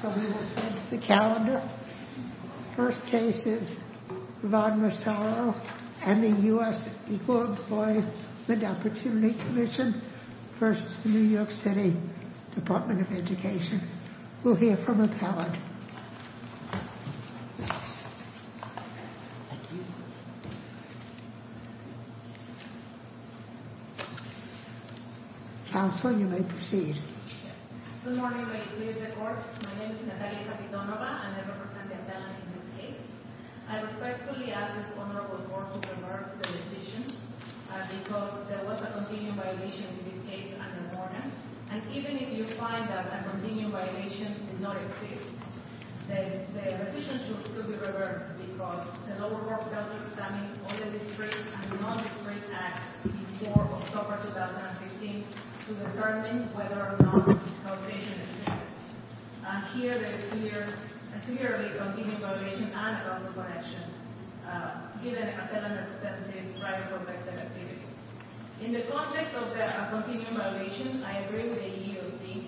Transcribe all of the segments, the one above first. So we will start the calendar. First case is Rod Massaro and the U.S. Equal Employment Opportunity Commission versus the New York City Department of Education. We'll hear from a pallet. Counsel, you may proceed. Good morning, ladies and gentlemen. My name is Natalia Capitonova and I represent the appellant in this case. I respectfully ask this Honorable Court to reverse the decision because there was a continuing violation in this case at the morning. And even if you find that a continuing violation did not exist, then the decision should still be reversed because the lower court failed to examine all the discreet and non-discreet acts before October 2015 to determine whether or not this causation exists. And here there is clearly a continuing violation and a wrongful connection given an appellant that is in private protected activity. In the context of the continuing violation, I agree with the EEOC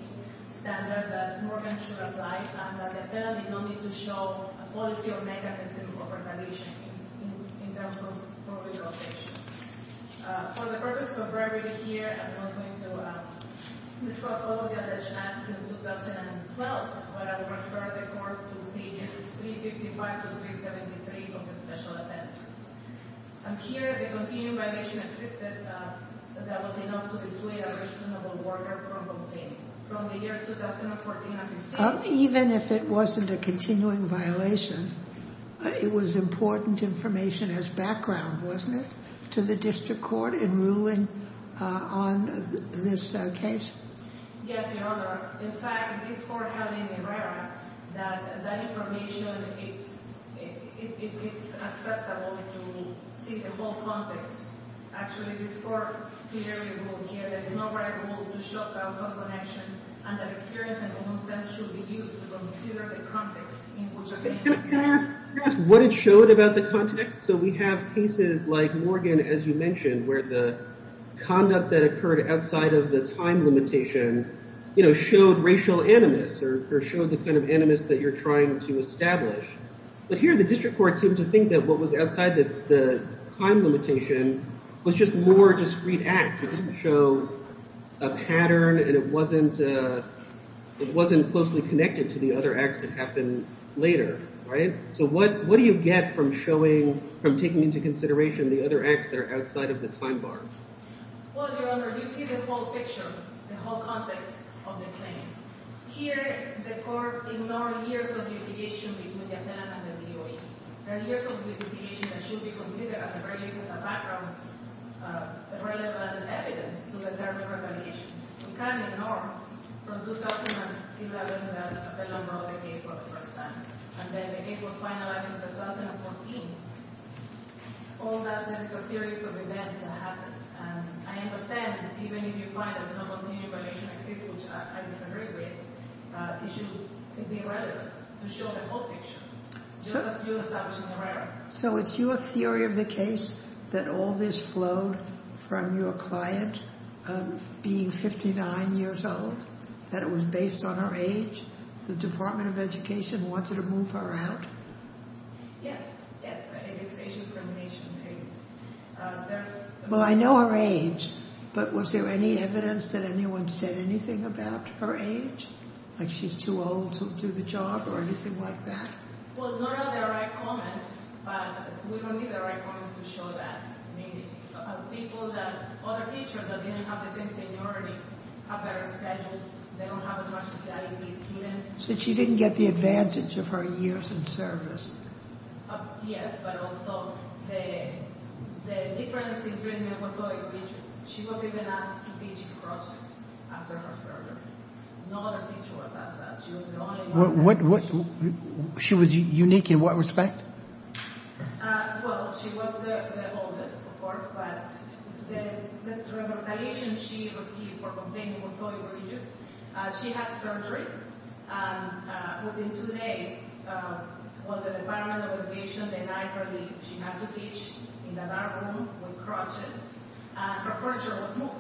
standard that Morgan should apply and that the appellant did not need to show a policy or mechanism of retaliation in terms of probation. For the purpose of brevity here, I'm not going to discuss all the alleged acts since 2012, but I will refer the Court to pages 355 to 373 of the special appendix. And here the continuing violation existed that was enough to display a reasonable order for complaining. Even if it wasn't a continuing violation, it was important information as background, wasn't it, to the District Court in ruling on this case? Yes, Your Honor. In fact, this Court had in the RERA that that information is acceptable to see the whole context. Actually, before the RERA rule here, there is no right rule to show a wrongful connection and that experience and common sense should be used to consider the context in which a case occurs. Can I ask what it showed about the context? So we have cases like Morgan, as you mentioned, where the conduct that occurred outside of the time limitation, you know, showed racial animus or showed the kind of animus that you're trying to establish. But here the District Court seemed to think that what was outside the time limitation was just more discreet acts. It didn't show a pattern and it wasn't closely connected to the other acts that happened later, right? So what do you get from showing, from taking into consideration the other acts that are outside of the time bar? Well, Your Honor, you see the whole picture, the whole context of the claim. Here the Court ignored years of litigation between the appellant and the DOE. There are years of litigation that should be considered, at the very least, as a background, relevant evidence to determine revaluation. It can't be ignored. From 2011, the appellant brought the case for the first time. And then the case was finalized in 2014. All that, there is a series of events that happened. I understand that even if you find a non-continued violation exists, which I disagree with, it should be relevant to show the whole picture, just as you established in the record. So it's your theory of the case that all this flowed from your client being 59 years old, that it was based on her age, the Department of Education wanted to move her out? Yes, yes. I think it's age discrimination, maybe. Well, I know her age, but was there any evidence that anyone said anything about her age? Like she's too old to do the job or anything like that? So she didn't get the advantage of her years in service? The difference is that she was going religious. She was even asked to teach crosses after her surgery. No other teacher was asked that. She was the only one. She was unique in what respect? Well, she was the oldest, of course, but the recommendation she received for complaining was going religious. She had surgery, and within two days, the Department of Education denied her leave. She had to teach in a dark room with crutches, and her furniture was moved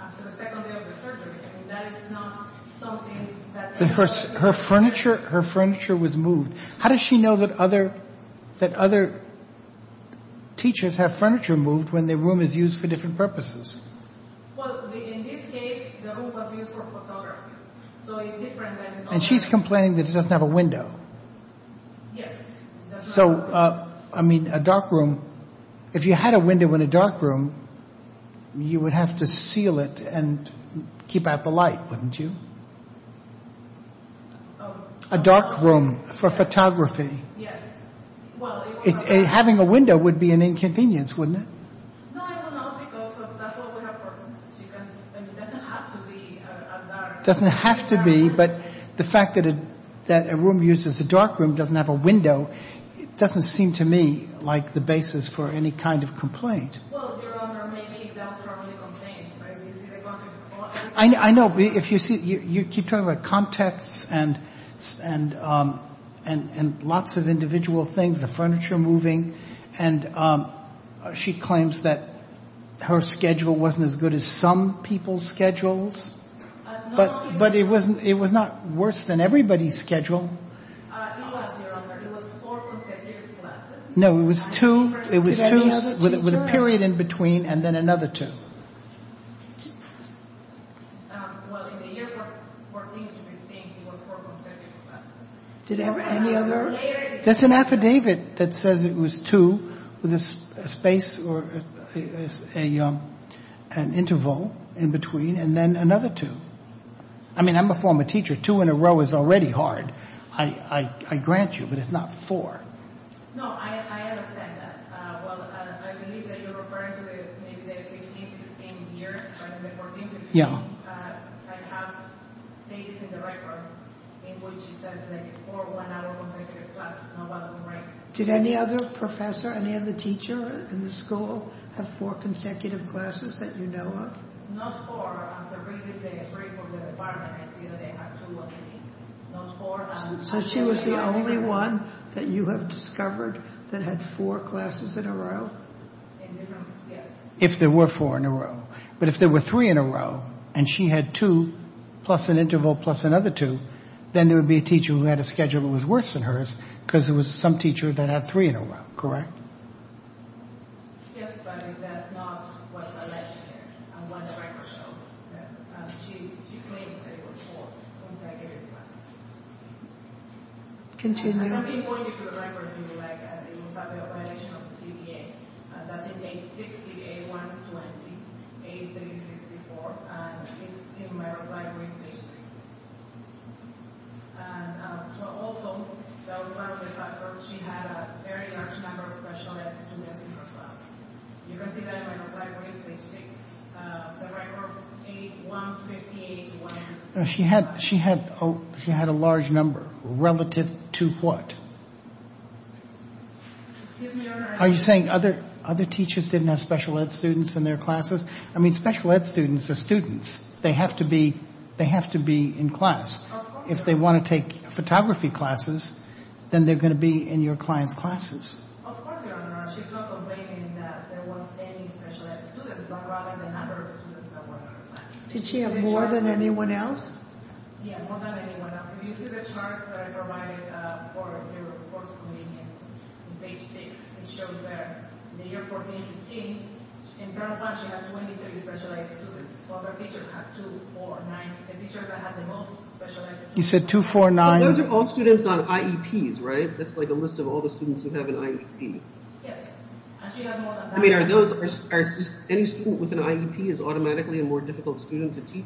after the second day of the surgery. I mean, that is not something that... Her furniture was moved. How does she know that other teachers have furniture moved when their room is used for different purposes? Well, in this case, the room was used for photography, so it's different than... And she's complaining that it doesn't have a window. Yes, it doesn't have a window. So, I mean, a dark room, if you had a window in a dark room, you would have to seal it and keep out the light, wouldn't you? A dark room for photography. Yes. Having a window would be an inconvenience, wouldn't it? No, it would not, because that's what would have worked. It doesn't have to be a dark room. It doesn't have to be, but the fact that a room used as a dark room doesn't have a window doesn't seem to me like the basis for any kind of complaint. Well, Your Honor, maybe that's wrongly complained. I know. You keep talking about contexts and lots of individual things, the furniture moving, and she claims that her schedule wasn't as good as some people's schedules, but it was not worse than everybody's schedule. It was, Your Honor. It was four consecutive classes. No, it was two with a period in between and then another two. Well, in the year 2014, it was four consecutive classes. Did any other... That's an affidavit that says it was two with a space or an interval in between and then another two. I mean, I'm a former teacher. Two in a row is already hard. I grant you, but it's not four. No, I understand that. Well, I believe that you're referring to maybe the 15th or 16th year, but in the 14th year, I have pages in the record in which it says four one-hour consecutive classes, not one-room rooms. Did any other professor, any other teacher in the school have four consecutive classes that you know of? Not four. So she was the only one that you have discovered that had four classes in a row? If there were four in a row. But if there were three in a row and she had two plus an interval plus another two, then there would be a teacher who had a schedule that was worse than hers because it was some teacher that had three in a row, correct? Yes, but that's not what the legend is and what the record shows. She claims that it was four consecutive classes. Can you point me to the record, if you would like. It was a violation of the CDA. That's in page 60, A120, page 364, and it's in my reply brief. Also, she had a very large number of special ed students in her class. You can see that in my reply brief, page 6. The record, A158. She had a large number. Relative to what? Are you saying other teachers didn't have special ed students in their classes? I mean, special ed students are students. They have to be in class. If they want to take photography classes, then they're going to be in your client's classes. Of course, Your Honor. She's not objecting that there was any special ed students, but rather the number of students that were in her class. Did she have more than anyone else? Yeah, more than anyone else. If you go to the chart that I provided for your course convenience, page 6, it shows that in the year 14-15, in her class, she had 23 special ed students, while her teachers had 2, 4, 9. The teachers that had the most special ed students. You said 2, 4, 9. Those are all students on IEPs, right? That's like a list of all the students who have an IEP. Yes, and she has more than that. I mean, any student with an IEP is automatically a more difficult student to teach?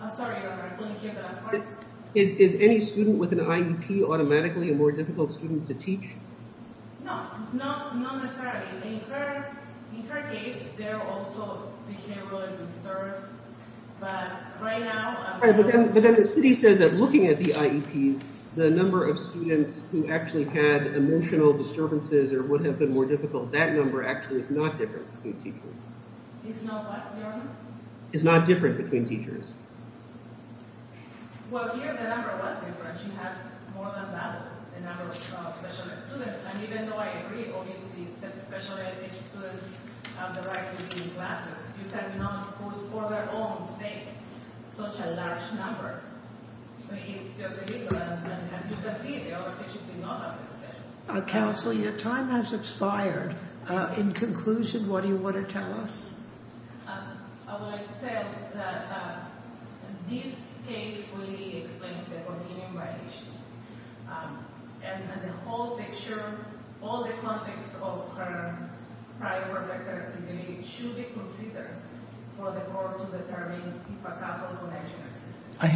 I'm sorry, Your Honor, I couldn't hear the last part. Is any student with an IEP automatically a more difficult student to teach? No, not necessarily. In her case, they also became really disturbed, but right now... But then the city says that looking at the IEP, the number of students who actually had emotional disturbances or would have been more difficult, that number actually is not different between teachers. It's not what, Your Honor? It's not different between teachers. Well, here the number was different. She has more than that, the number of special ed students. And even though I agree, obviously, that special ed students have the right to be in classes, you cannot put for their own sake such a large number. I mean, it's just illegal. And as you can see, the other teachers did not have this schedule. Counsel, your time has expired. In conclusion, what do you want to tell us? I would like to say that this case really explains the continuing violation. And the whole picture, all the context of her prior work activity should be considered for the court to determine if a casual connection exists. I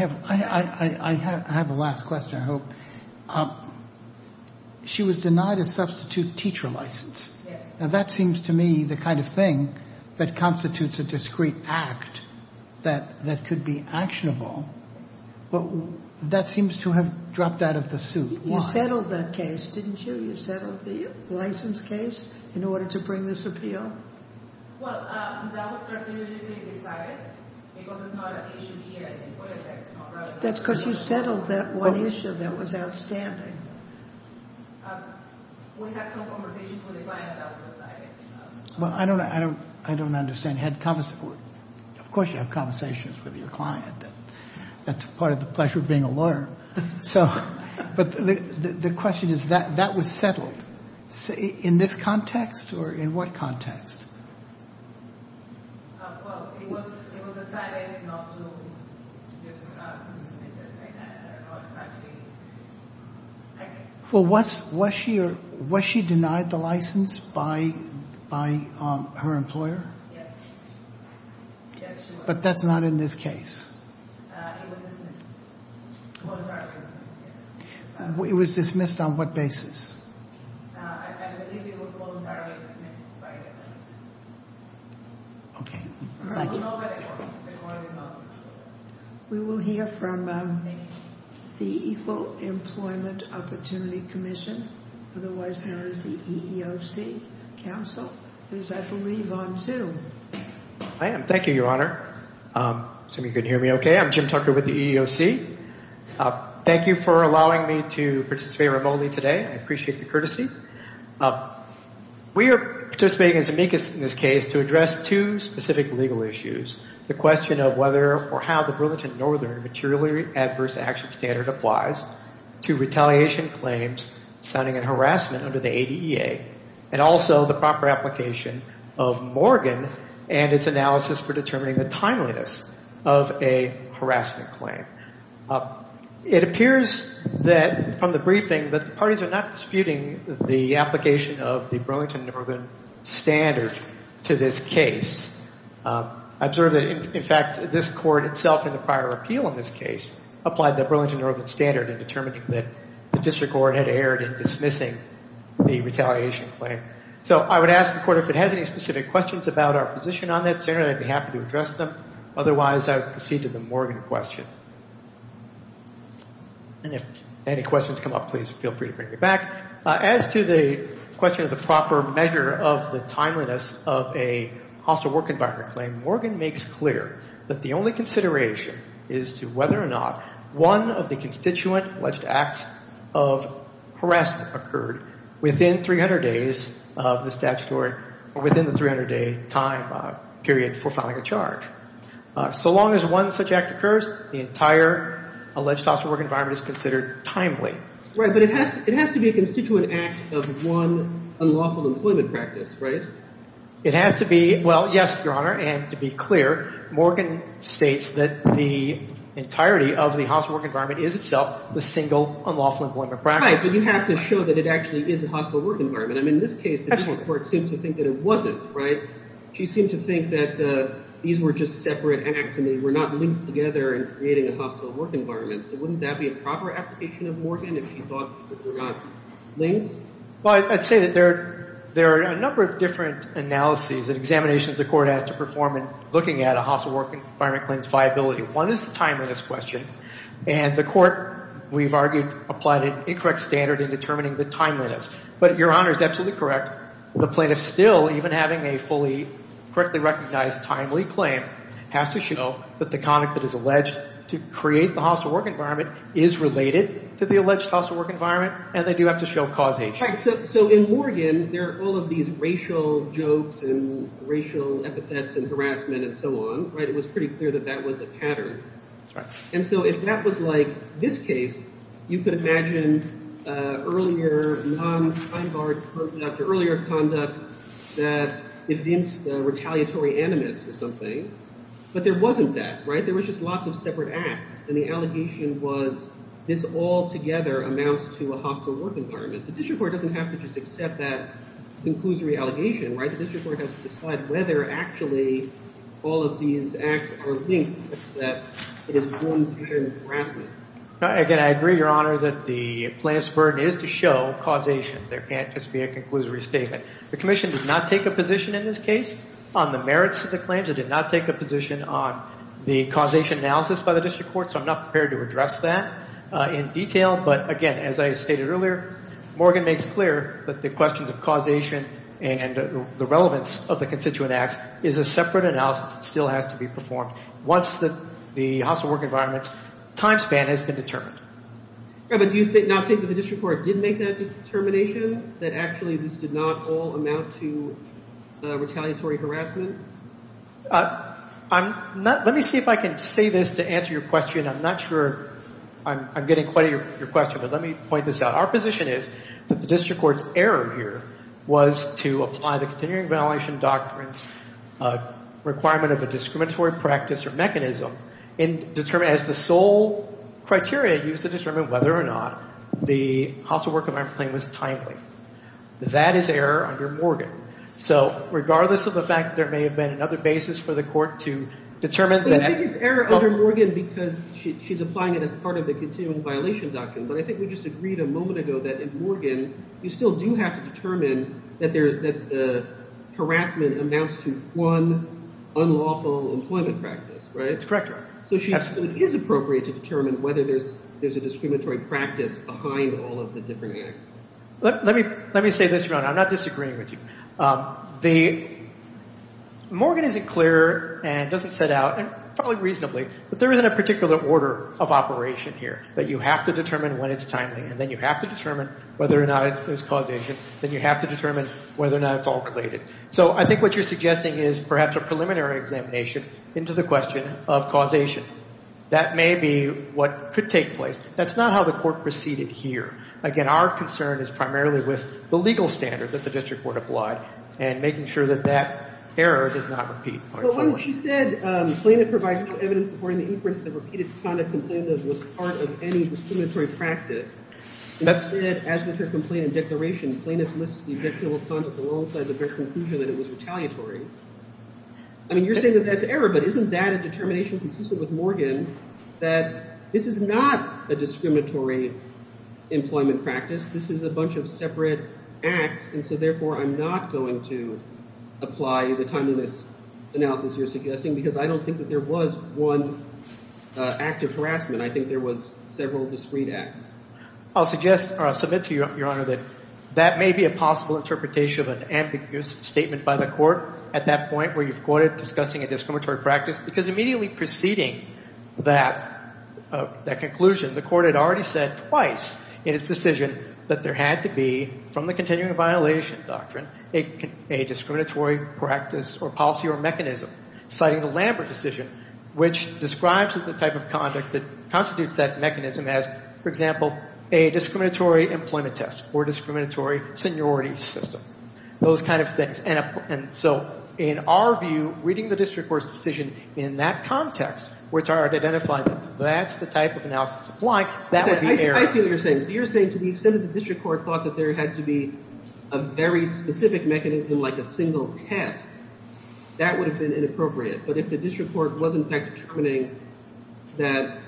have a last question, I hope. She was denied a substitute teacher license. Yes. Now, that seems to me the kind of thing that constitutes a discreet act that could be actionable. But that seems to have dropped out of the suit. You settled that case, didn't you? You settled the license case in order to bring this appeal? Well, that was strategically decided because it's not an issue here at the Emporium. That's because you settled that one issue that was outstanding. We had some conversations with the client that was decided. Well, I don't understand. Of course you have conversations with your client. That's part of the pleasure of being a lawyer. But the question is, that was settled in this context or in what context? Well, it was decided not to dismiss it. Well, was she denied the license by her employer? Yes, she was. But that's not in this case. It was dismissed. Voluntarily dismissed, yes. It was dismissed on what basis? I believe it was voluntarily dismissed by the employer. We will hear from the Equal Employment Opportunity Commission. Otherwise known as the EEOC Council, who is, I believe, on Zoom. I am. Thank you, Your Honor. I assume you can hear me okay. I'm Jim Tucker with the EEOC. Thank you for allowing me to participate remotely today. I appreciate the courtesy. We are participating as amicus in this case to address two specific legal issues. The question of whether or how the Burlington Northern Materially Adverse Action Standard applies to retaliation claims sounding in harassment under the ADEA. And also the proper application of Morgan and its analysis for determining the timeliness of a harassment claim. It appears that, from the briefing, that the parties are not disputing the application of the Burlington Northern standard to this case. I observe that, in fact, this Court itself in the prior appeal in this case applied the Burlington Northern standard in determining that the District Court had erred in dismissing the retaliation claim. So I would ask the Court if it has any specific questions about our position on that. Senator, I'd be happy to address them. Otherwise, I would proceed to the Morgan question. And if any questions come up, please feel free to bring them back. As to the question of the proper measure of the timeliness of a hostile work environment claim, Morgan makes clear that the only consideration is to whether or not one of the constituent alleged acts of harassment occurred within 300 days of the statutory or within the 300-day time period for filing a charge. So long as one such act occurs, the entire alleged hostile work environment is considered timely. Right, but it has to be a constituent act of one unlawful employment practice, right? It has to be. Well, yes, Your Honor, and to be clear, Morgan states that the entirety of the hostile work environment is itself the single unlawful employment practice. Right, but you have to show that it actually is a hostile work environment. I mean, in this case, the court seems to think that it wasn't, right? She seemed to think that these were just separate acts and they were not linked together in creating a hostile work environment. So wouldn't that be a proper application of Morgan if she thought that they were not linked? Well, I'd say that there are a number of different analyses and examinations the Court has to perform in looking at a hostile work environment claim's viability. One is the timeliness question, and the Court, we've argued, applied an incorrect standard in determining the timeliness. But Your Honor is absolutely correct. The plaintiff still, even having a fully correctly recognized timely claim, has to show that the conduct that is alleged to create the hostile work environment is related to the alleged hostile work environment, and they do have to show causation. Right, so in Morgan, there are all of these racial jokes and racial epithets and harassment and so on, right? And it was pretty clear that that was a pattern. And so if that was like this case, you could imagine earlier non-time-barred conduct, earlier conduct that evinced retaliatory animus or something. But there wasn't that, right? There was just lots of separate acts, and the allegation was this altogether amounts to a hostile work environment. The district court doesn't have to just accept that conclusory allegation, right? All of these acts are linked such that it is going to be harassment. Again, I agree, Your Honor, that the plaintiff's burden is to show causation. There can't just be a conclusory statement. The Commission did not take a position in this case on the merits of the claims. It did not take a position on the causation analysis by the district court, so I'm not prepared to address that in detail. But again, as I stated earlier, Morgan makes clear that the questions of causation and the relevance of the constituent acts is a separate analysis that still has to be performed once the hostile work environment's time span has been determined. But do you not think that the district court did make that determination that actually this did not all amount to retaliatory harassment? Let me see if I can say this to answer your question. I'm not sure I'm getting quite your question, but let me point this out. Our position is that the district court's error here was to apply the continuing violation doctrine's requirement of a discriminatory practice or mechanism as the sole criteria used to determine whether or not the hostile work environment claim was timely. That is error under Morgan. So regardless of the fact that there may have been another basis for the court to determine that— I think it's error under Morgan because she's applying it as part of the continuing violation doctrine, but I think we just agreed a moment ago that in Morgan you still do have to determine that the harassment amounts to one unlawful employment practice, right? That's correct, Your Honor. So it is appropriate to determine whether there's a discriminatory practice behind all of the different acts. Let me say this, Your Honor. I'm not disagreeing with you. Morgan is clear and doesn't set out, and probably reasonably, but there isn't a particular order of operation here that you have to determine when it's timely, and then you have to determine whether or not it's causation, then you have to determine whether or not it's all related. So I think what you're suggesting is perhaps a preliminary examination into the question of causation. That may be what could take place. That's not how the court proceeded here. Again, our concern is primarily with the legal standard that the district court applied and making sure that that error does not repeat. Well, when she said, plaintiff provides no evidence supporting the inference that repeated conduct complained of was part of any discriminatory practice, and that said, as with her complaint and declaration, plaintiff lists the objective of conduct alongside the very conclusion that it was retaliatory. I mean, you're saying that that's error, but isn't that a determination consistent with Morgan that this is not a discriminatory employment practice? This is a bunch of separate acts, and so therefore I'm not going to apply the timeliness analysis you're suggesting because I don't think that there was one act of harassment. I think there was several discreet acts. I'll submit to you, Your Honor, that that may be a possible interpretation of an ambiguous statement by the court at that point where you've quoted discussing a discriminatory practice because immediately preceding that conclusion, the court had already said twice in its decision that there had to be, from the continuing violation doctrine, a discriminatory practice or policy or mechanism citing the Lambert decision, which describes the type of conduct that constitutes that mechanism as, for example, a discriminatory employment test or discriminatory seniority system, those kind of things. And so in our view, reading the district court's decision in that context, which I already identified that that's the type of analysis applying, that would be error. I see what you're saying. So you're saying to the extent that the district court thought that there had to be a very specific mechanism like a single test, that would have been inappropriate. But if the district court was, in fact, determining that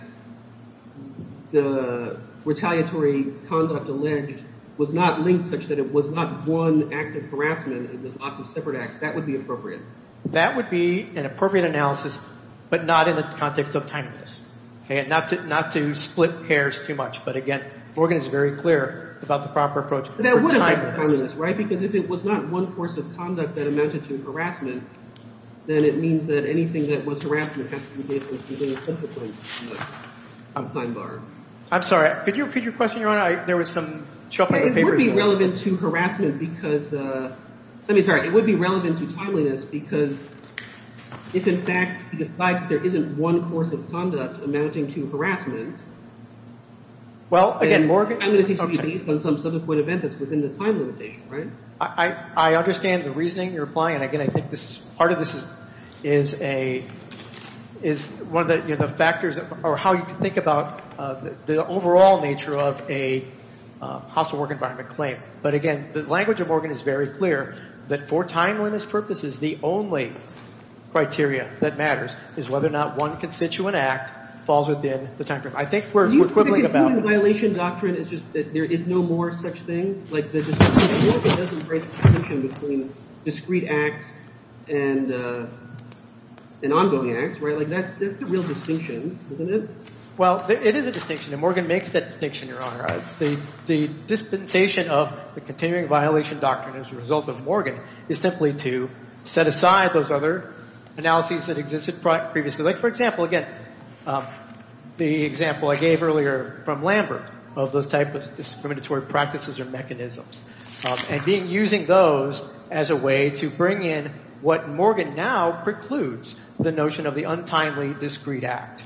the retaliatory conduct alleged was not linked such that it was not one act of harassment and there's lots of separate acts, that would be appropriate. That would be an appropriate analysis, but not in the context of timeliness, not to split hairs too much. But, again, Morgan is very clear about the proper approach for timeliness. But that would have been timeliness, right? Because if it was not one course of conduct that amounted to harassment, then it means that anything that was harassment has to be based on a specific time bar. I'm sorry. Could you repeat your question, Your Honor? There was some shuffle of papers. It would be relevant to harassment because – let me start. It would be relevant to timeliness because if, in fact, he decides there isn't one course of conduct amounting to harassment – Well, again, Morgan – It's going to be based on some subsequent event that's within the time limitation, right? I understand the reasoning you're applying. And, again, I think part of this is one of the factors or how you can think about the overall nature of a household work environment claim. But, again, the language of Morgan is very clear that for timeliness purposes, the only criteria that matters is whether or not one constituent act falls within the time frame. I think we're equivalent about – Do you think the continuing violation doctrine is just that there is no more such thing? Like, the distinction – Morgan doesn't break the distinction between discrete acts and ongoing acts, right? Like, that's the real distinction, isn't it? Well, it is a distinction, and Morgan makes that distinction, Your Honor. The dispensation of the continuing violation doctrine as a result of Morgan is simply to set aside those other analyses that existed previously. Like, for example, again, the example I gave earlier from Lambert of those types of discriminatory practices or mechanisms and using those as a way to bring in what Morgan now precludes, the notion of the untimely discrete act.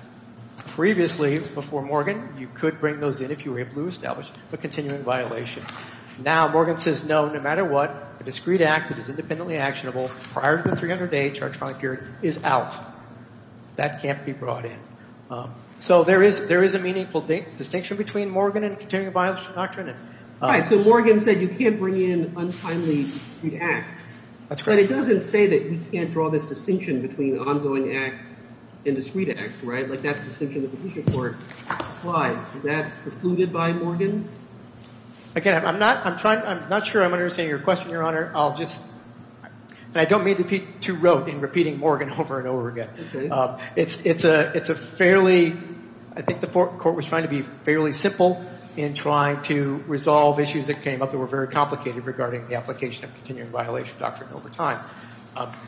Previously, before Morgan, you could bring those in if you were able to establish a continuing violation. Now Morgan says, no, no matter what, a discrete act that is independently actionable prior to the 300-day charge time period is out. That can't be brought in. So there is a meaningful distinction between Morgan and the continuing violation doctrine. Right. So Morgan said you can't bring in untimely discrete acts. That's correct. But it doesn't say that you can't draw this distinction between ongoing acts and discrete acts, right? Like, that distinction in the Petition Court applies. Is that precluded by Morgan? Again, I'm not sure I'm understanding your question, Your Honor. I'll just – and I don't mean to be too rote in repeating Morgan over and over again. Okay. It's a fairly – I think the court was trying to be fairly simple in trying to resolve issues that came up that were very complicated regarding the application of continuing violation doctrine over time.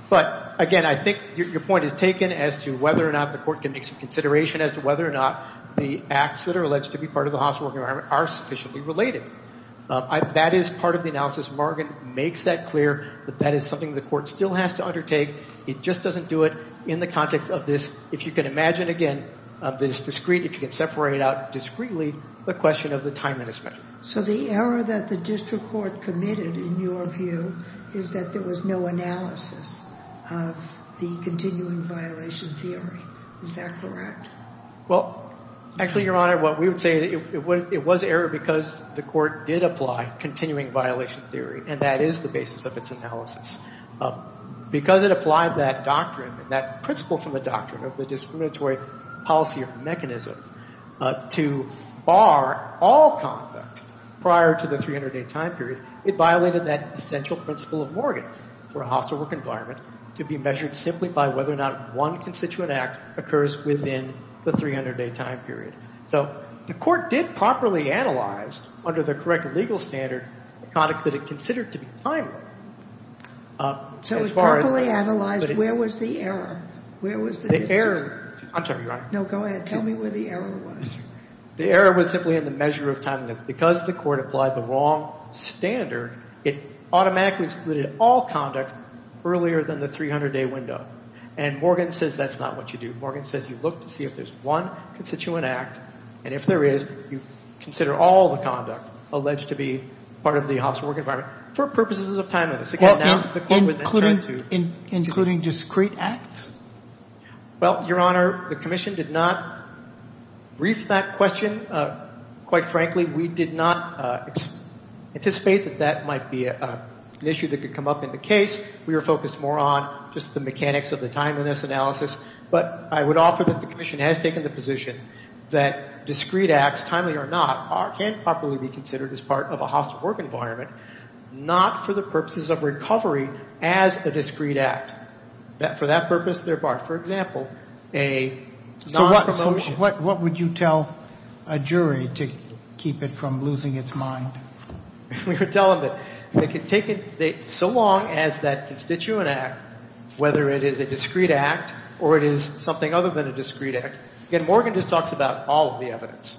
But, again, I think your point is taken as to whether or not the court can make some consideration as to whether or not the acts that are alleged to be part of the hospital environment are sufficiently related. That is part of the analysis. Morgan makes that clear that that is something the court still has to undertake. It just doesn't do it in the context of this. If you can imagine, again, this discrete, if you can separate it out discreetly, the question of the time that is spent. So the error that the district court committed, in your view, is that there was no analysis of the continuing violation theory. Is that correct? Well, actually, Your Honor, what we would say, it was error because the court did apply continuing violation theory, and that is the basis of its analysis. Because it applied that doctrine, that principle from the doctrine of the discriminatory policy or mechanism, to bar all conduct prior to the 300-day time period, it violated that essential principle of Morgan for a hospital work environment to be measured simply by whether or not one constituent act occurs within the 300-day time period. So the court did properly analyze, under the correct legal standard, the conduct that it considered to be timely. So it properly analyzed where was the error? Where was the error? I'm sorry, Your Honor. No, go ahead. Tell me where the error was. The error was simply in the measure of time. Because the court applied the wrong standard, it automatically excluded all conduct earlier than the 300-day window. And Morgan says that's not what you do. Morgan says you look to see if there's one constituent act, and if there is, you consider all the conduct alleged to be part of the hospital work environment for purposes of timeliness. Including discrete acts? Well, Your Honor, the commission did not brief that question. Quite frankly, we did not anticipate that that might be an issue that could come up in the case. We were focused more on just the mechanics of the timeliness analysis. But I would offer that the commission has taken the position that discrete acts, timely or not, can properly be considered as part of a hospital work environment, not for the purposes of recovery as a discrete act. For that purpose, there are, for example, a non-promotion. So what would you tell a jury to keep it from losing its mind? We would tell them that so long as that constituent act, whether it is a discrete act or it is something other than a discrete act, again, Morgan just talked about all of the evidence.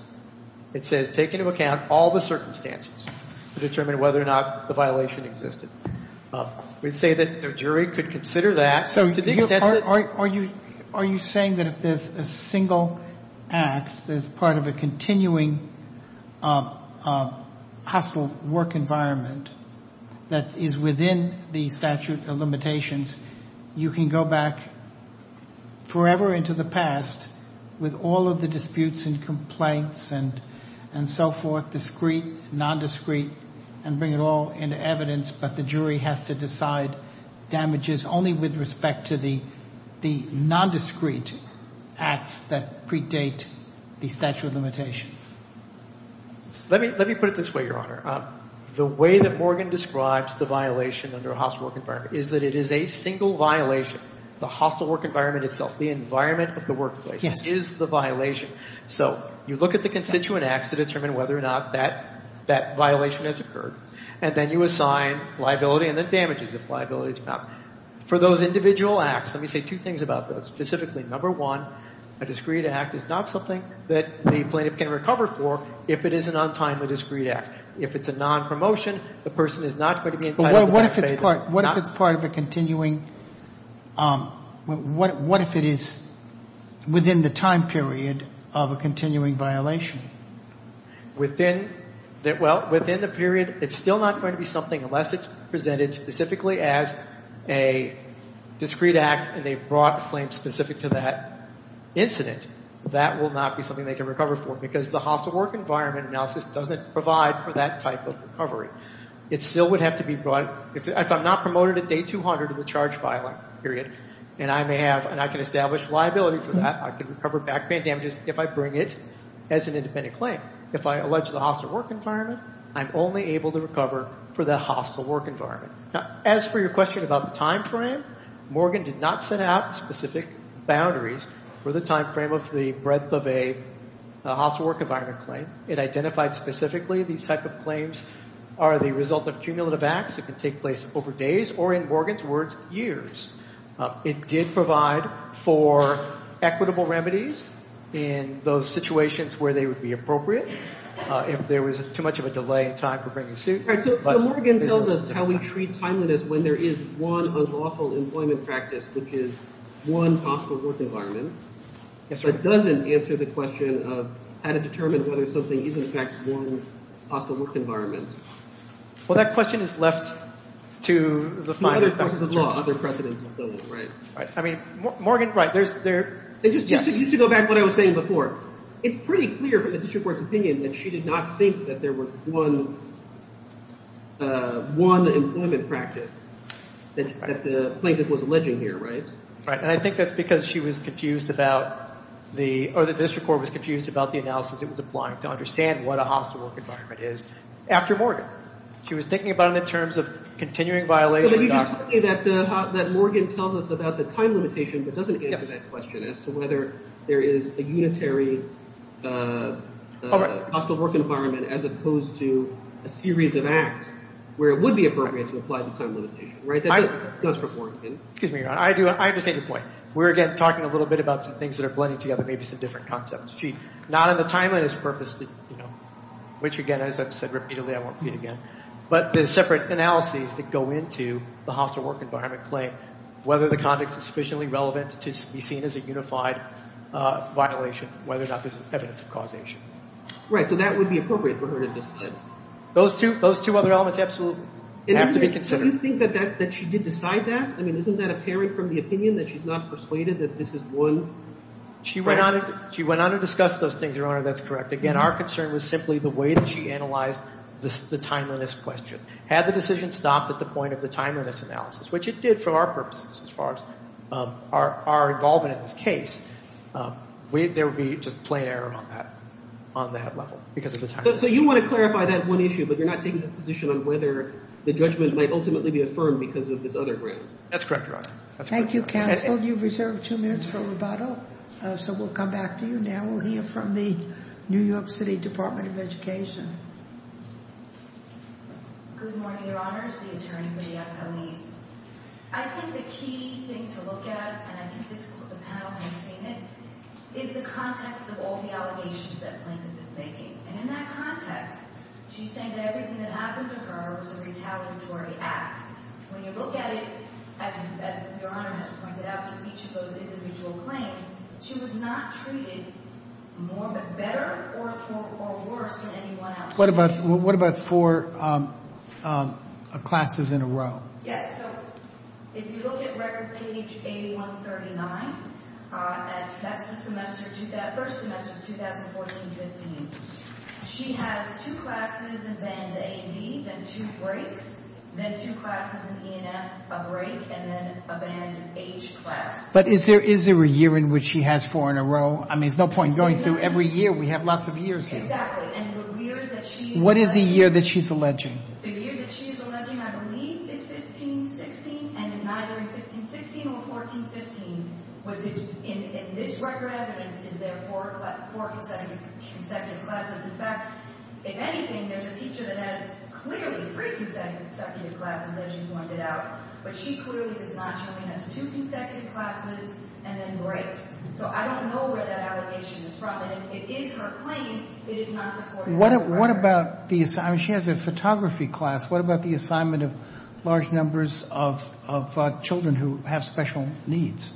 It says take into account all the circumstances to determine whether or not the violation existed. We'd say that the jury could consider that. So are you saying that if there's a single act that's part of a continuing hospital work environment that is within the statute of limitations, you can go back forever into the past with all of the disputes and complaints and so forth, discrete, nondiscrete, and bring it all into evidence, but the jury has to decide damages only with respect to the nondiscrete acts that predate the statute of limitations? Let me put it this way, Your Honor. The way that Morgan describes the violation under a hospital work environment is that it is a single violation. The hospital work environment itself, the environment of the workplace is the violation. So you look at the constituent acts to determine whether or not that violation has occurred, and then you assign liability and then damages if liability is found. For those individual acts, let me say two things about those. Specifically, number one, a discrete act is not something that the plaintiff can recover for if it is an untimely discrete act. If it's a non-promotion, the person is not going to be entitled to be expated. But what if it's part of a continuing – what if it is within the time period of a continuing violation? Within the – well, within the period, it's still not going to be something unless it's presented specifically as a discrete act and they've brought a claim specific to that incident. That will not be something they can recover for because the hospital work environment analysis doesn't provide for that type of recovery. It still would have to be brought – if I'm not promoted at day 200 of the charge filing period, and I may have – and I can establish liability for that. I can recover backband damages if I bring it as an independent claim. If I allege the hospital work environment, I'm only able to recover for the hospital work environment. Now, as for your question about the timeframe, Morgan did not set out specific boundaries for the timeframe of the breadth of a hospital work environment claim. It identified specifically these type of claims are the result of cumulative acts that can take place over days or, in Morgan's words, years. It did provide for equitable remedies in those situations where they would be appropriate if there was too much of a delay in time for bringing suit. All right, so Morgan tells us how we treat timeliness when there is one unlawful employment practice, which is one hospital work environment. It doesn't answer the question of how to determine whether something is, in fact, one hospital work environment. Well, that question is left to the final – To other parts of the law, other precedents of the law, right. I mean, Morgan – right, there's – Just to go back to what I was saying before. It's pretty clear from the district court's opinion that she did not think that there was one employment practice that the plaintiff was alleging here, right? Right, and I think that's because she was confused about the – or the district court was confused about the analysis it was applying to understand what a hospital work environment is after Morgan. She was thinking about it in terms of continuing violation of doctrine. But you're just saying that Morgan tells us about the time limitation but doesn't answer that question as to whether there is a unitary hospital work environment as opposed to a series of acts where it would be appropriate to apply the time limitation, right? That's for Morgan. Excuse me, Your Honor. I have the same point. We're, again, talking a little bit about some things that are blended together, maybe some different concepts. She – not in the timeliness purpose, which, again, as I've said repeatedly, I won't repeat again, but there's separate analyses that go into the hospital work environment claim, whether the context is sufficiently relevant to be seen as a unified violation, whether or not there's evidence of causation. Right, so that would be appropriate for her to decide. Those two other elements absolutely have to be considered. Do you think that she did decide that? I mean, isn't that a pairing from the opinion that she's not persuaded that this is one practice? She went on to discuss those things, Your Honor. That's correct. Again, our concern was simply the way that she analyzed the timeliness question. Had the decision stopped at the point of the timeliness analysis, which it did for our purposes as far as our involvement in this case, there would be just plain error on that level because of the timeliness. So you want to clarify that one issue, but you're not taking a position on whether the judgment might ultimately be affirmed because of this other ground. That's correct, Your Honor. Thank you, counsel. You've reserved two minutes for rebuttal. So we'll come back to you now. We'll hear from the New York City Department of Education. Good morning, Your Honors, the attorney for the appellees. I think the key thing to look at, and I think this is what the panel has seen it, is the context of all the allegations that Plaintiff is making. And in that context, she's saying that everything that happened to her was a retaliatory act. When you look at it, as Your Honor has pointed out, to each of those individual claims, she was not treated more, but better or worse than anyone else. What about four classes in a row? Yes. So if you look at record page 8139, that's the first semester of 2014-15. She has two classes in bands A and B, then two breaks, then two classes in E and F, a break, and then a band H class. But is there a year in which she has four in a row? I mean, there's no point in going through every year. We have lots of years here. Exactly. And the years that she is alleging— What is the year that she's alleging? The year that she is alleging, I believe, is 15-16, and in either 15-16 or 14-15, in this record evidence, is there four consecutive classes. In fact, if anything, there's a teacher that has clearly three consecutive classes, as you pointed out, but she clearly is not showing us two consecutive classes and then breaks. So I don't know where that allegation is from, and if it is her claim, it is not supported. What about the—I mean, she has a photography class. What about the assignment of large numbers of children who have special needs?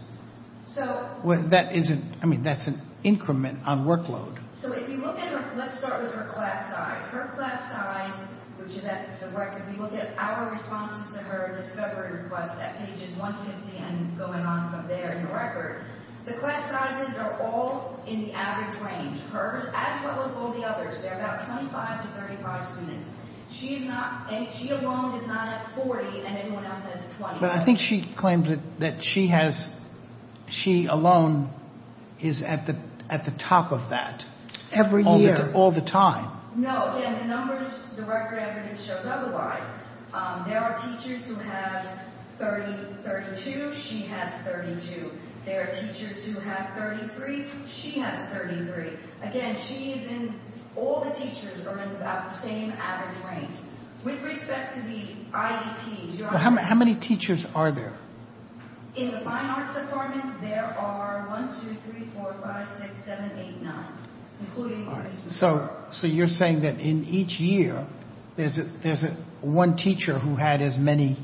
So— That isn't—I mean, that's an increment on workload. So if you look at her—let's start with her class size. Her class size, which is at the record—we will get our response to her discovery request at pages 150 and going on from there in the record. The class sizes are all in the average range. Hers, as well as all the others, there are about 25 to 35 students. She is not—she alone is not at 40, and everyone else has 20. But I think she claims that she has—she alone is at the top of that. Every year. All the time. No. Again, the numbers, the record evidence shows otherwise. There are teachers who have 30, 32. She has 32. There are teachers who have 33. She has 33. Again, she is in—all the teachers are in about the same average range. With respect to the IDPs— How many teachers are there? In the fine arts department, there are one, two, three, four, five, six, seven, eight, nine, including artists. So you're saying that in each year, there's one teacher who had as many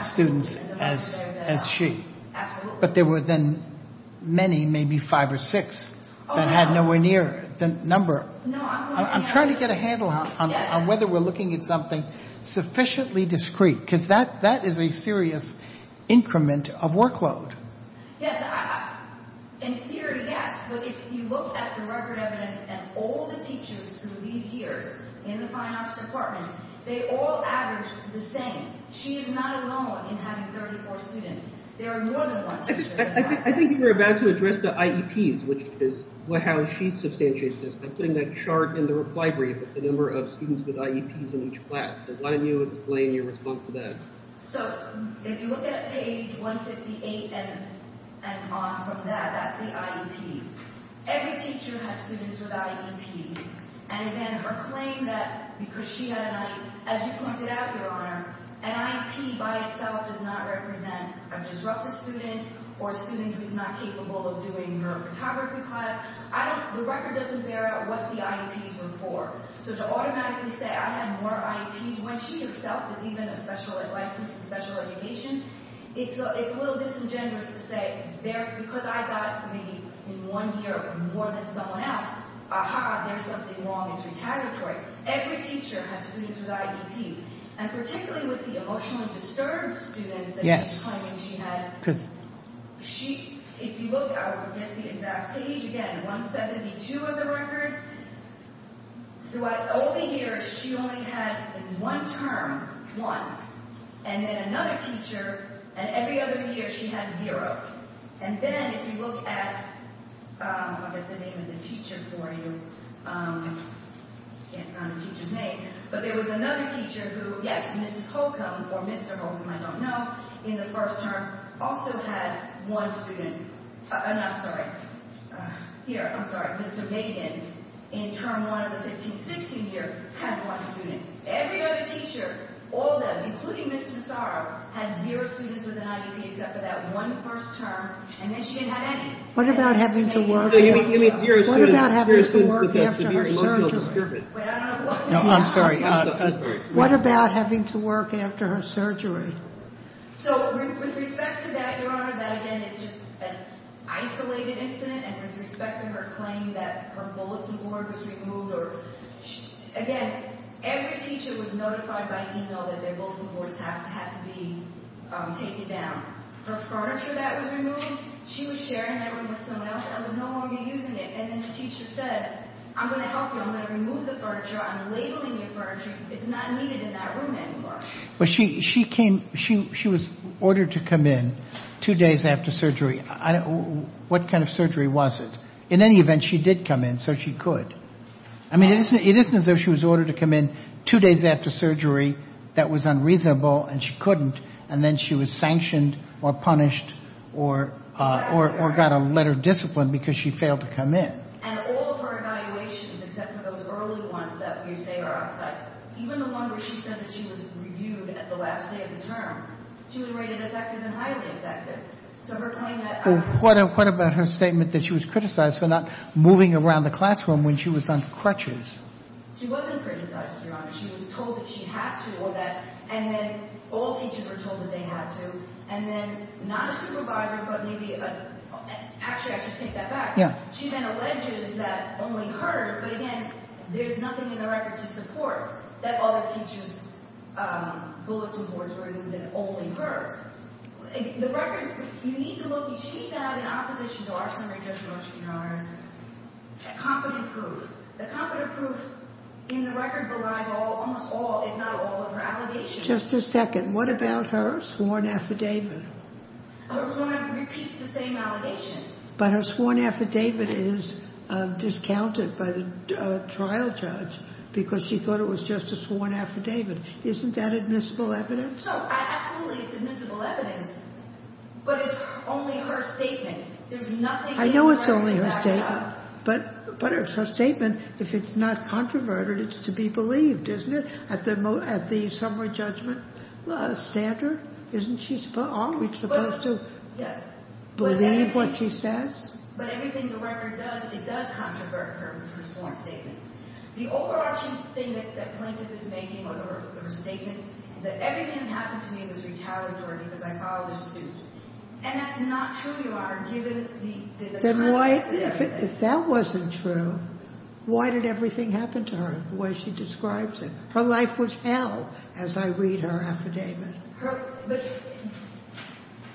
students as she. Absolutely. But there were then many, maybe five or six, that had nowhere near the number. I'm trying to get a handle on whether we're looking at something sufficiently discreet, because that is a serious increment of workload. In theory, yes. But if you look at the record evidence and all the teachers through these years in the fine arts department, they all averaged the same. She is not alone in having 34 students. There are more than one teacher. I think you were about to address the IEPs, which is how she substantiates this. I'm putting that chart in the reply brief with the number of students with IEPs in each class. Why don't you explain your response to that? So if you look at page 158 and on from that, that's the IEPs. Every teacher has students without IEPs. And again, her claim that because she had an IEP, as you pointed out, Your Honor, an IEP by itself does not represent a disruptive student or a student who is not capable of doing her photography class. The record doesn't bear out what the IEPs were for. So to automatically say I have more IEPs when she herself is even a special license in special education, it's a little disingenuous to say because I got maybe in one year more than someone else, aha, there's something wrong. It's retaliatory. Every teacher has students without IEPs. And particularly with the emotionally disturbed students that she's claiming she had, if you look at the exact page, again, 172 of the record, throughout all the years she only had in one term, one, and then another teacher, and every other year she had zero. And then if you look at, I'll get the name of the teacher for you, can't find the teacher's name, but there was another teacher who, yes, Mrs. Holcomb or Mr. Holcomb, I don't know, in the first term also had one student. And I'm sorry. Here, I'm sorry. Mr. Megan, in term one of the 1560 year, had one student. Every other teacher, all of them, including Mr. Massaro, had zero students with an IEP except for that one first term, and then she didn't have any. What about having to work after her surgery? No, I'm sorry. What about having to work after her surgery? So with respect to that, Your Honor, that again is just an isolated incident, and with respect to her claim that her bulletin board was removed, again, every teacher was notified by email that their bulletin boards had to be taken down. Her furniture that was removed, she was sharing that room with someone else that was no longer using it, and then the teacher said, I'm going to help you. I'm going to remove the furniture. I'm labeling your furniture. It's not needed in that room anymore. But she came, she was ordered to come in two days after surgery. What kind of surgery was it? In any event, she did come in, so she could. I mean, it isn't as though she was ordered to come in two days after surgery. That was unreasonable, and she couldn't. And then she was sanctioned or punished or got a letter of discipline because she failed to come in. And all of her evaluations, except for those early ones that you say are outside, even the one where she said that she was reviewed at the last day of the term, she was rated effective and highly effective. So her claim that— What about her statement that she was criticized for not moving around the classroom when she was on crutches? She wasn't criticized, Your Honor. She was told that she had to, and then all teachers were told that they had to, and then not a supervisor but maybe a—actually, I should take that back. She then alleges that only hers, but, again, there's nothing in the record to support that all the teachers' bulletin boards were removed and only hers. The record—you need to look—she needs to have in opposition to our summary, Judge Roach, Your Honor, is a competent proof. The competent proof in the record belies almost all, if not all, of her allegations. Just a second. What about her sworn affidavit? Her sworn affidavit repeats the same allegations. But her sworn affidavit is discounted by the trial judge because she thought it was just a sworn affidavit. Isn't that admissible evidence? No, absolutely it's admissible evidence, but it's only her statement. There's nothing in the record to back that up. I know it's only her statement, but it's her statement. If it's not controverted, it's to be believed, isn't it, at the summary judgment standard? Isn't she always supposed to believe what she says? But everything the record does, it does controvert her with her sworn statements. The overarching thing that Plaintiff is making, or her statements, is that everything that happened to me was retaliatory because I followed a suit. And that's not true, Your Honor, given the— Then why—if that wasn't true, why did everything happen to her the way she describes it? Her life was hell, as I read her affidavit. But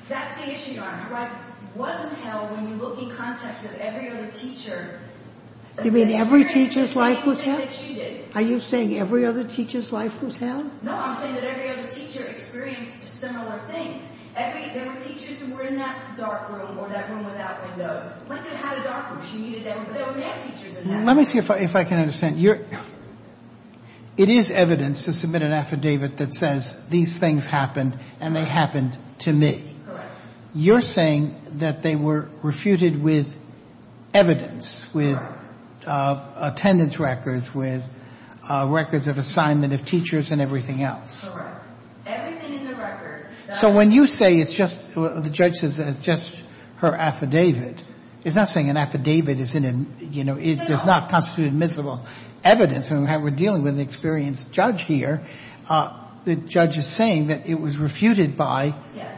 that's the issue, Your Honor. Her life wasn't hell when you look in context of every other teacher. You mean every teacher's life was hell? Are you saying every other teacher's life was hell? No, I'm saying that every other teacher experienced similar things. There were teachers who were in that dark room or that room without windows. Plaintiff had a dark room. She needed that room, but there were mad teachers in that room. Let me see if I can understand. It is evidence to submit an affidavit that says these things happened and they happened to me. Correct. You're saying that they were refuted with evidence, with attendance records, with records of assignment of teachers and everything else. Correct. Everything in the record— So when you say it's just—the judge says it's just her affidavit, it's not saying an affidavit is in—it does not constitute admissible evidence. We're dealing with an experienced judge here. The judge is saying that it was refuted by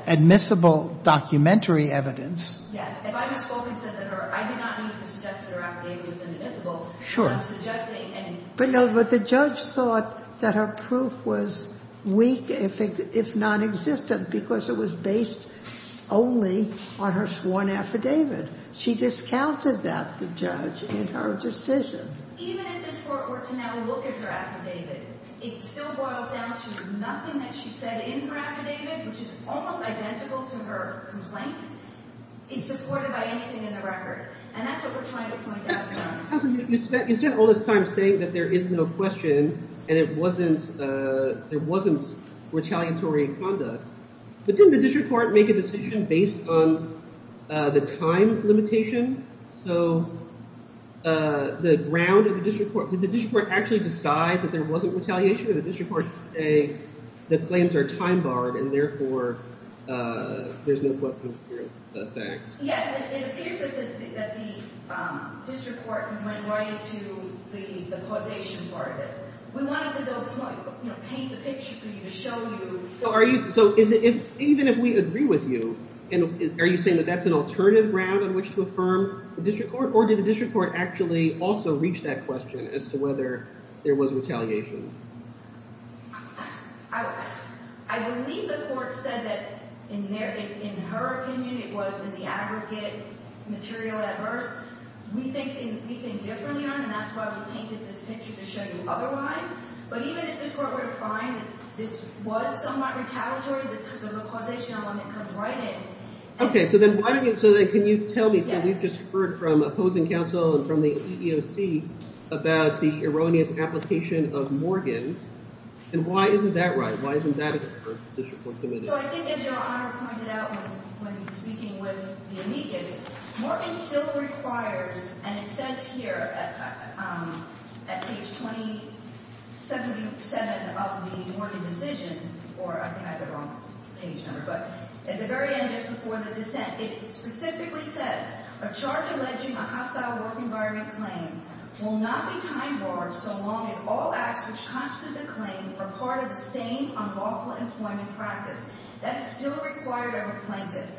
admissible documentary evidence. Yes. If I had spoken to her, I did not need to suggest that her affidavit was inadmissible. Sure. I'm suggesting— But no, the judge thought that her proof was weak, if nonexistent, because it was based solely on her sworn affidavit. She discounted that, the judge, in her decision. Even if this Court were to now look at her affidavit, it still boils down to nothing that she said in her affidavit, which is almost identical to her complaint, is supported by anything in the record. And that's what we're trying to point out here. Counsel, you spent all this time saying that there is no question, and it wasn't—there wasn't retaliatory conduct. But didn't the district court make a decision based on the time limitation? So the ground of the district court—did the district court actually decide that there wasn't retaliation, or did the district court say the claims are time-barred and, therefore, there's no question? Yes, it appears that the district court went right to the causation part of it. We wanted to, you know, paint the picture for you, to show you— So even if we agree with you, are you saying that that's an alternative ground on which to affirm the district court, or did the district court actually also reach that question as to whether there was retaliation? I believe the court said that, in her opinion, it was in the aggregate material at first. We think differently on it, and that's why we painted this picture to show you otherwise. But even if the court were to find that this was somewhat retaliatory, the causation element comes right in. Okay, so then why do you—so then can you tell me—so we've just heard from opposing counsel and from the EEOC about the erroneous application of Morgan, and why isn't that right? Why isn't that an effort for the district court to make? So I think, as Your Honor pointed out when speaking with the amicus, Morgan still requires—and it says here at page 277 of the Morgan decision, or I think I have the wrong page number, but at the very end, just before the dissent, it specifically says, a charge alleging a hostile work environment claim will not be time barred so long as all acts which constitute the claim are part of the same unlawful employment practice. That's still required of a plaintiff.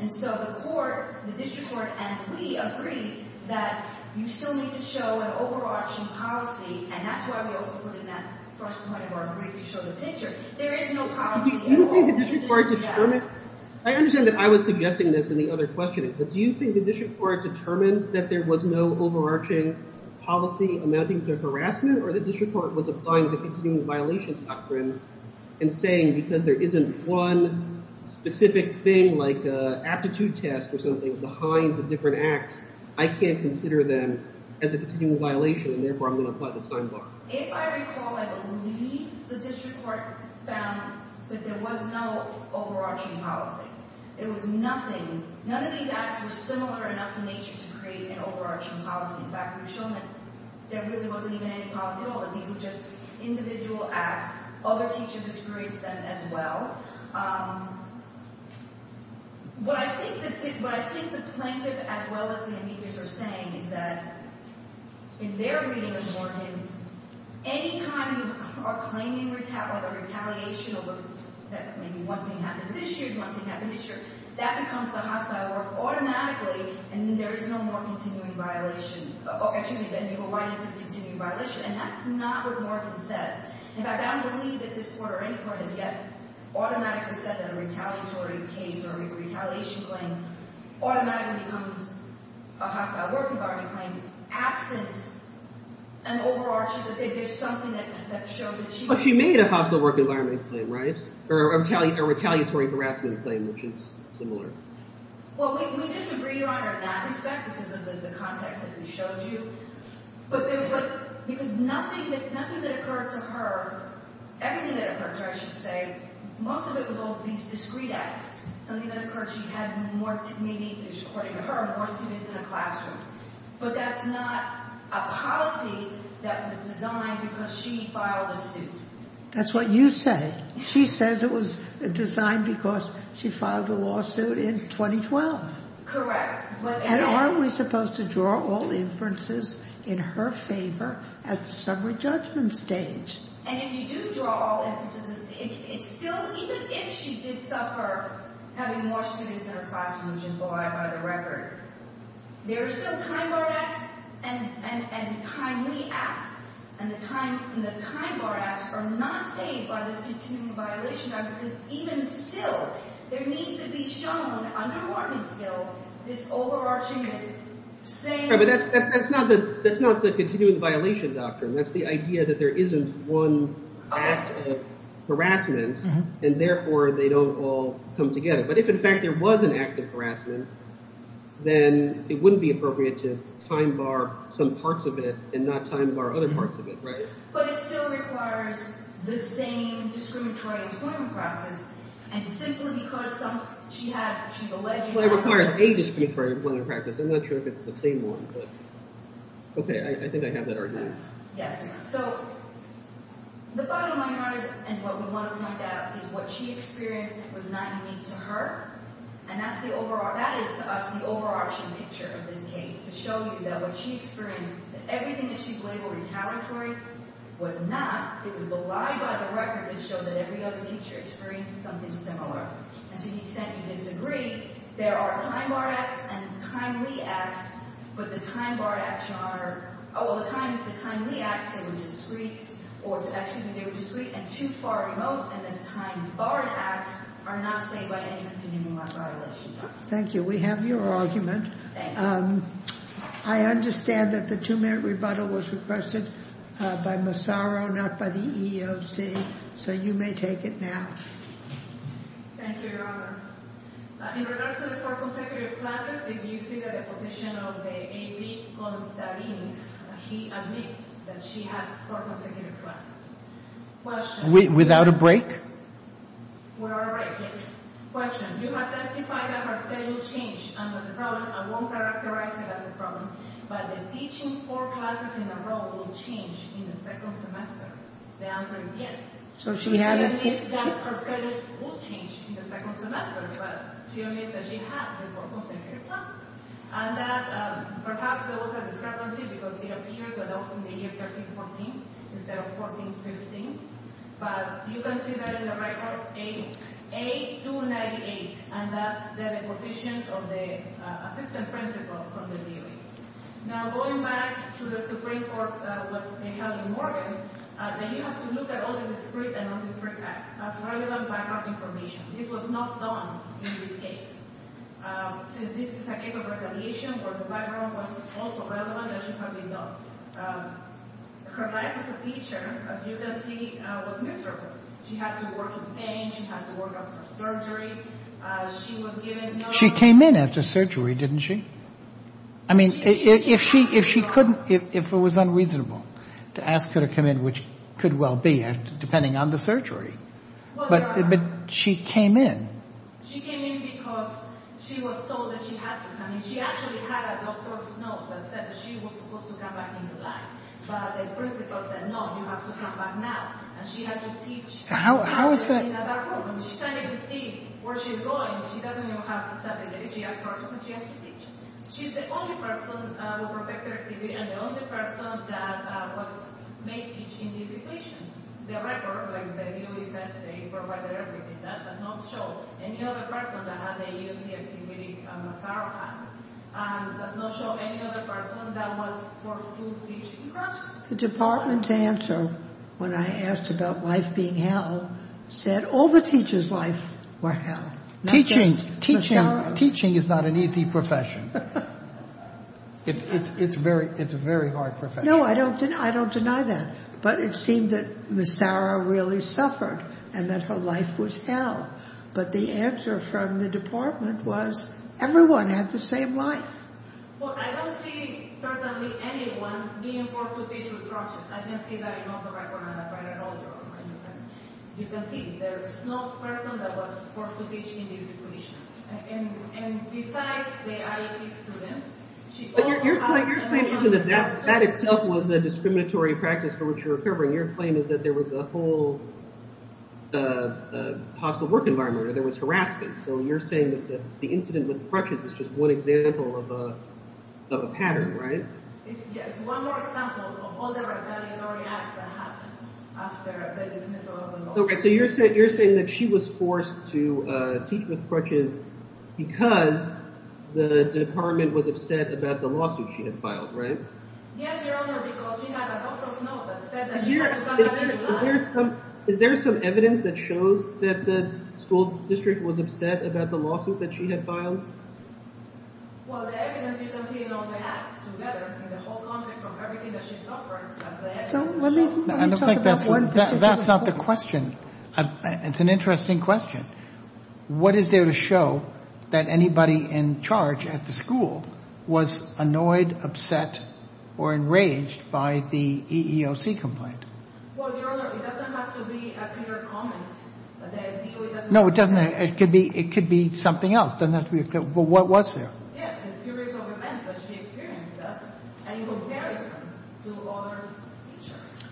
And so the court, the district court, and we agree that you still need to show an over-auction policy, and that's why we also put in that first point of our brief to show the picture. There is no policy at all. I understand that I was suggesting this in the other questioning, but do you think the district court determined that there was no overarching policy amounting to harassment, or the district court was applying the continuing violations doctrine and saying, because there isn't one specific thing like an aptitude test or something behind the different acts, I can't consider them as a continuing violation, and therefore I'm going to apply the time bar? If I recall, I believe the district court found that there was no overarching policy. It was nothing. None of these acts were similar enough in nature to create an overarching policy. In fact, we've shown that there really wasn't even any policy at all, that these were just individual acts. Other teachers experienced them as well. What I think the plaintiff, as well as the amicus, are saying is that in their reading of Morgan, any time you are claiming retaliation over that maybe one thing happened this year, one thing happened this year, that becomes the hostile work automatically, and then there is no more continuing violation, excuse me, and you go right into the continuing violation, and that's not what Morgan says. In fact, I don't believe that this court or any court has yet automatically said that a retaliatory case or a retaliation claim automatically becomes a hostile work environment claim absent an overarching, that there's something that shows that she… But she made a hostile work environment claim, right, or a retaliatory harassment claim, which is similar. Well, we disagree, Your Honor, in that respect because of the context that we showed you, because nothing that occurred to her, everything that occurred to her, I should say, most of it was all these discrete acts, something that occurred, she had more, maybe, according to her, more students in the classroom, but that's not a policy that was designed because she filed a suit. That's what you say. She says it was designed because she filed a lawsuit in 2012. Correct. And aren't we supposed to draw all inferences in her favor at the summary judgment stage? And if you do draw all inferences, it's still, even if she did suffer having more students in her classroom, which is why, by the record, there are still time-bar acts and timely acts, and the time-bar acts are not saved by this continuing violation, because even still, there needs to be shown, under Morgan's bill, this overarching, this same… Right, but that's not the continuing violation doctrine. That's the idea that there isn't one act of harassment, and therefore they don't all come together. But if, in fact, there was an act of harassment, then it wouldn't be appropriate to time-bar some parts of it and not time-bar other parts of it, right? But it still requires the same discriminatory employment practice, and simply because some… She's alleging that… Well, it requires a discriminatory employment practice. I'm not sure if it's the same one, but… Okay, I think I have that argument. Yes, you do. So the bottom line is, and what we want to point out, is what she experienced was not unique to her, and that is, to us, the overarching picture of this case, to show you that what she experienced, everything that she's labeled retaliatory, was not. It was the lie by the record that showed that every other teacher experienced something similar. And to the extent you disagree, there are time-barred acts and timely acts, but the time-barred acts are… Oh, well, the timely acts, they were discreet, or, excuse me, they were discreet and too far remote, and the time-barred acts are not saved by any continuing violation doctrine. Thank you. We have your argument. Thank you. I understand that the two-minute rebuttal was requested by Massaro, not by the EEOC, so you may take it now. Thank you, Your Honor. In regards to the four consecutive classes, if you see the deposition of the A.B. Constantinis, he admits that she had four consecutive classes. Without a break? We're all right. You have testified that her study will change under the problem and won't characterize it as a problem, but the teaching four classes in a row will change in the second semester. The answer is yes. She admits that her study will change in the second semester, but she admits that she had the four consecutive classes, and that perhaps there was a discrepancy because it appears that that was in the year 13-14 instead of 14-15, but you can see that in the record, A.298, and that's the deposition of the assistant principal from the DA. Now, going back to the Supreme Court, what they held in Morgan, that you have to look at all the discrete and non-discrete acts as relevant background information. This was not done in this case. Since this is a case of retaliation where the background was also relevant, it should have been done. Her life as a teacher, as you can see, was miserable. She had to work in pain. She had to work after surgery. She was given no time. She came in after surgery, didn't she? I mean, if she couldn't, if it was unreasonable to ask her to come in, which could well be, depending on the surgery. But she came in. She came in because she was told that she had to come in. I mean, she actually had a doctor's note that said that she was supposed to come back in July. But the principal said, no, you have to come back now. And she had to teach at our home. She can't even see where she's going. She doesn't know how to study. She has to teach. She's the only person who perfected her activity and the only person that was made to teach in this situation. The record, like they said, they provided everything. That does not show any other person that had to use the activity in a sorrowful manner. And it does not show any other person that was forced to teach in consciousness. The department's answer, when I asked about life being hell, said all the teachers' lives were hell. Teaching is not an easy profession. It's a very hard profession. No, I don't deny that. But it seemed that Ms. Sauer really suffered and that her life was hell. But the answer from the department was everyone had the same life. Well, I don't see certainly anyone being forced to teach with crutches. I can say that I know the record on that quite well. And you can see there is no person that was forced to teach in this situation. That itself was a discriminatory practice for which you're covering. Your claim is that there was a whole hostile work environment or there was harassment. So you're saying that the incident with crutches is just one example of a pattern, right? Yes, one more example of all the retaliatory acts that happened after the dismissal of the lawsuit. So you're saying that she was forced to teach with crutches because the department was upset about the lawsuit she had filed, right? Yes, Your Honor, because she had a doctor's note that said that she had to cover her life. Is there some evidence that shows that the school district was upset about the lawsuit that she had filed? Well, the evidence you can see in all the acts together in the whole country from everything that she's suffered. I don't think that's not the question. It's an interesting question. What is there to show that anybody in charge at the school was annoyed, upset, or enraged by the EEOC complaint? Well, Your Honor, it doesn't have to be a clear comment. No, it doesn't. It could be something else. It doesn't have to be clear. Well, what was there? Yes, a series of events that she experienced.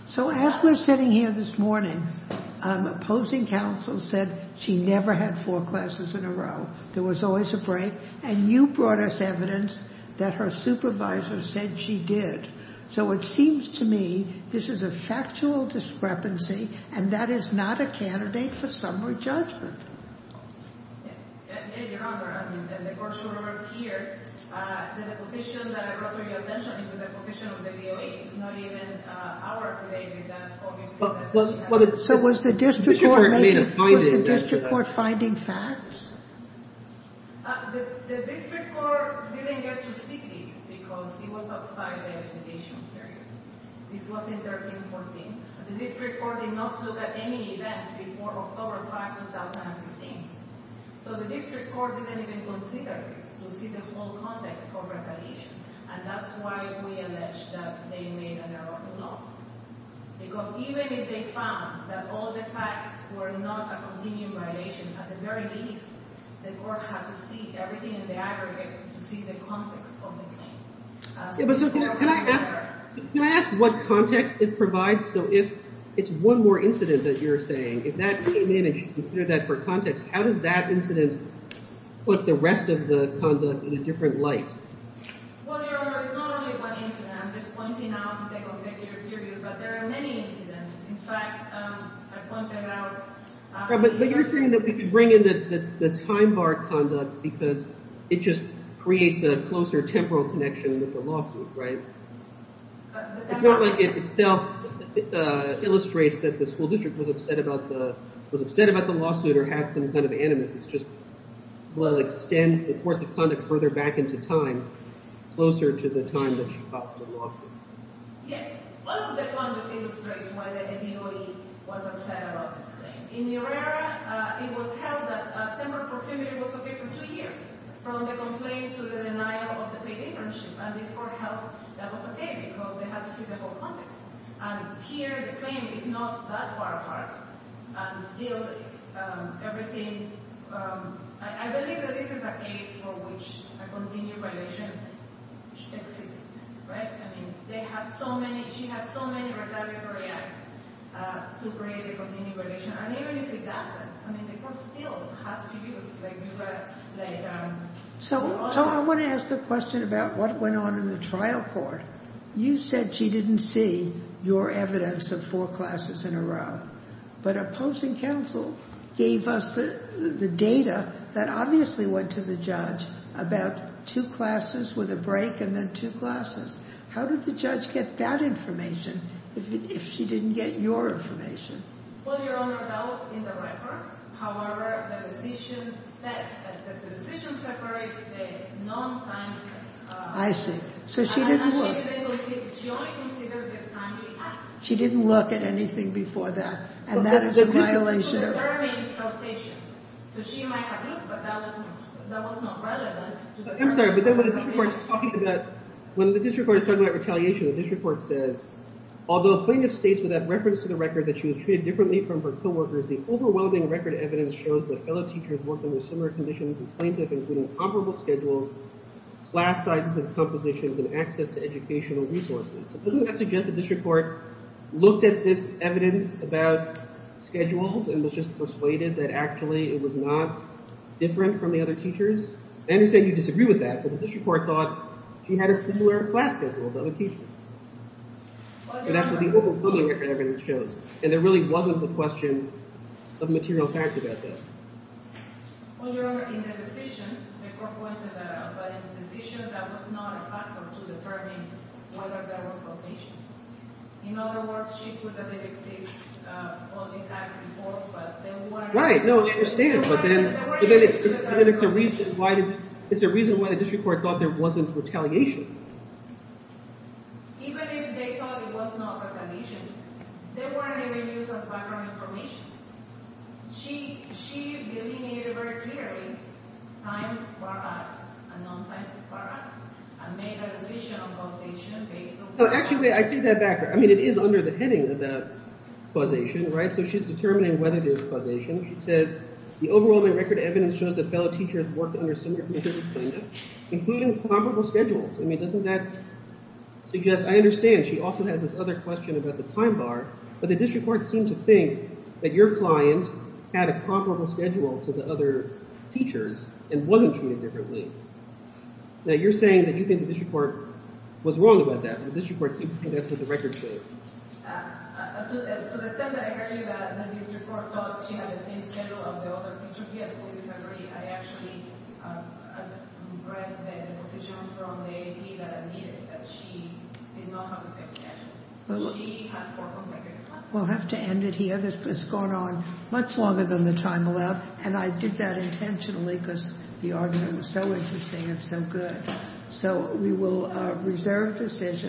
So as we're sitting here this morning, opposing counsel said she never had four classes in a row. There was always a break, and you brought us evidence that her supervisor said she did. So it seems to me this is a factual discrepancy, and that is not a candidate for summary judgment. Yes. Yes, Your Honor. I mean, the court's rumors here, the deposition that I brought to your attention is a deposition of the EEOC. It's not even our complaint. So was the district court finding facts? The district court didn't get to see this because it was outside the litigation period. This was in 13-14. The district court did not look at any events before October 5, 2016. So the district court didn't even consider this to see the whole context of retaliation, and that's why we allege that they made an error of the law. Because even if they found that all the facts were not a continuing violation, at the very least, the court had to see everything in the aggregate to see the context of the claim. Can I ask what context it provides? So if it's one more incident that you're saying, if that came in and you consider that for context, how does that incident put the rest of the conduct in a different light? Well, Your Honor, it's not only one incident. I'm just pointing out the objective period, but there are many incidents. In fact, I pointed out— But you're saying that we could bring in the time bar conduct because it just creates a closer temporal connection with the lawsuit, right? It's not like it illustrates that the school district was upset about the lawsuit or had some kind of animus. It's just, well, extend the course of conduct further back into time, closer to the time that she got the lawsuit. Yes. Part of the conduct illustrates why the ADOE was upset about this thing. In your area, it was held that temporal proximity was okay for two years, from the complaint to the denial of the paid internship. And this court held that was okay because they had to see the whole context. And here, the claim is not that far apart. And still, everything— I believe that this is a case for which a continued violation should exist, right? I mean, they have so many—she has so many retaliatory acts to create a continued violation. And even if it doesn't, I mean, the court still has to use— So I want to ask a question about what went on in the trial court. You said she didn't see your evidence of four classes in a row. But opposing counsel gave us the data that obviously went to the judge about two classes with a break and then two classes. How did the judge get that information if she didn't get your information? Well, Your Honor, that was in the record. However, the decision says that the decision paper is a non-timely— I see. So she didn't look. She only considered the timely acts. She didn't look at anything before that. And that is a violation of— I'm sorry, but then when the district court is talking about— When the district court is talking about retaliation, the district court says, although plaintiff states without reference to the record that she was treated differently from her co-workers, the overwhelming record evidence shows that fellow teachers worked under similar conditions as plaintiff, including comparable schedules, class sizes and compositions, and access to educational resources. Doesn't that suggest the district court looked at this evidence about schedules and was just persuaded that actually it was not different from the other teachers? I understand you disagree with that, but the district court thought she had a similar class schedule to other teachers. And that's what the overwhelming record evidence shows. And there really wasn't the question of material facts about that. Well, Your Honor, in the decision, the court pointed out that in the decision, that was not a factor to determine whether there was causation. In other words, she could have been accused of this act before, but there weren't— Right, no, I understand, but then it's a reason why the district court thought there wasn't retaliation. Even if they thought it was not retaliation, there weren't even uses of background information. She delineated very clearly time for us and non-time for us and made a decision on causation based on— Actually, I take that back. I mean, it is under the heading of causation, right? So she's determining whether there was causation. She says, the overwhelming record evidence shows that fellow teachers worked under similar conditions, including comparable schedules. I mean, doesn't that suggest—I understand she also has this other question about the time bar, but the district court seemed to think that your client had a comparable schedule to the other teachers and wasn't treated differently. Now, you're saying that you think the district court was wrong about that. To the extent that I agree that the district court thought she had the same schedule of the other teachers, yes, I disagree. I actually read the position from the AP that admitted that she did not have the same schedule. She had four consecutive classes. We'll have to end it here. This has gone on much longer than the time allowed, and I did that intentionally because the argument was so interesting and so good. So we will reserve decision.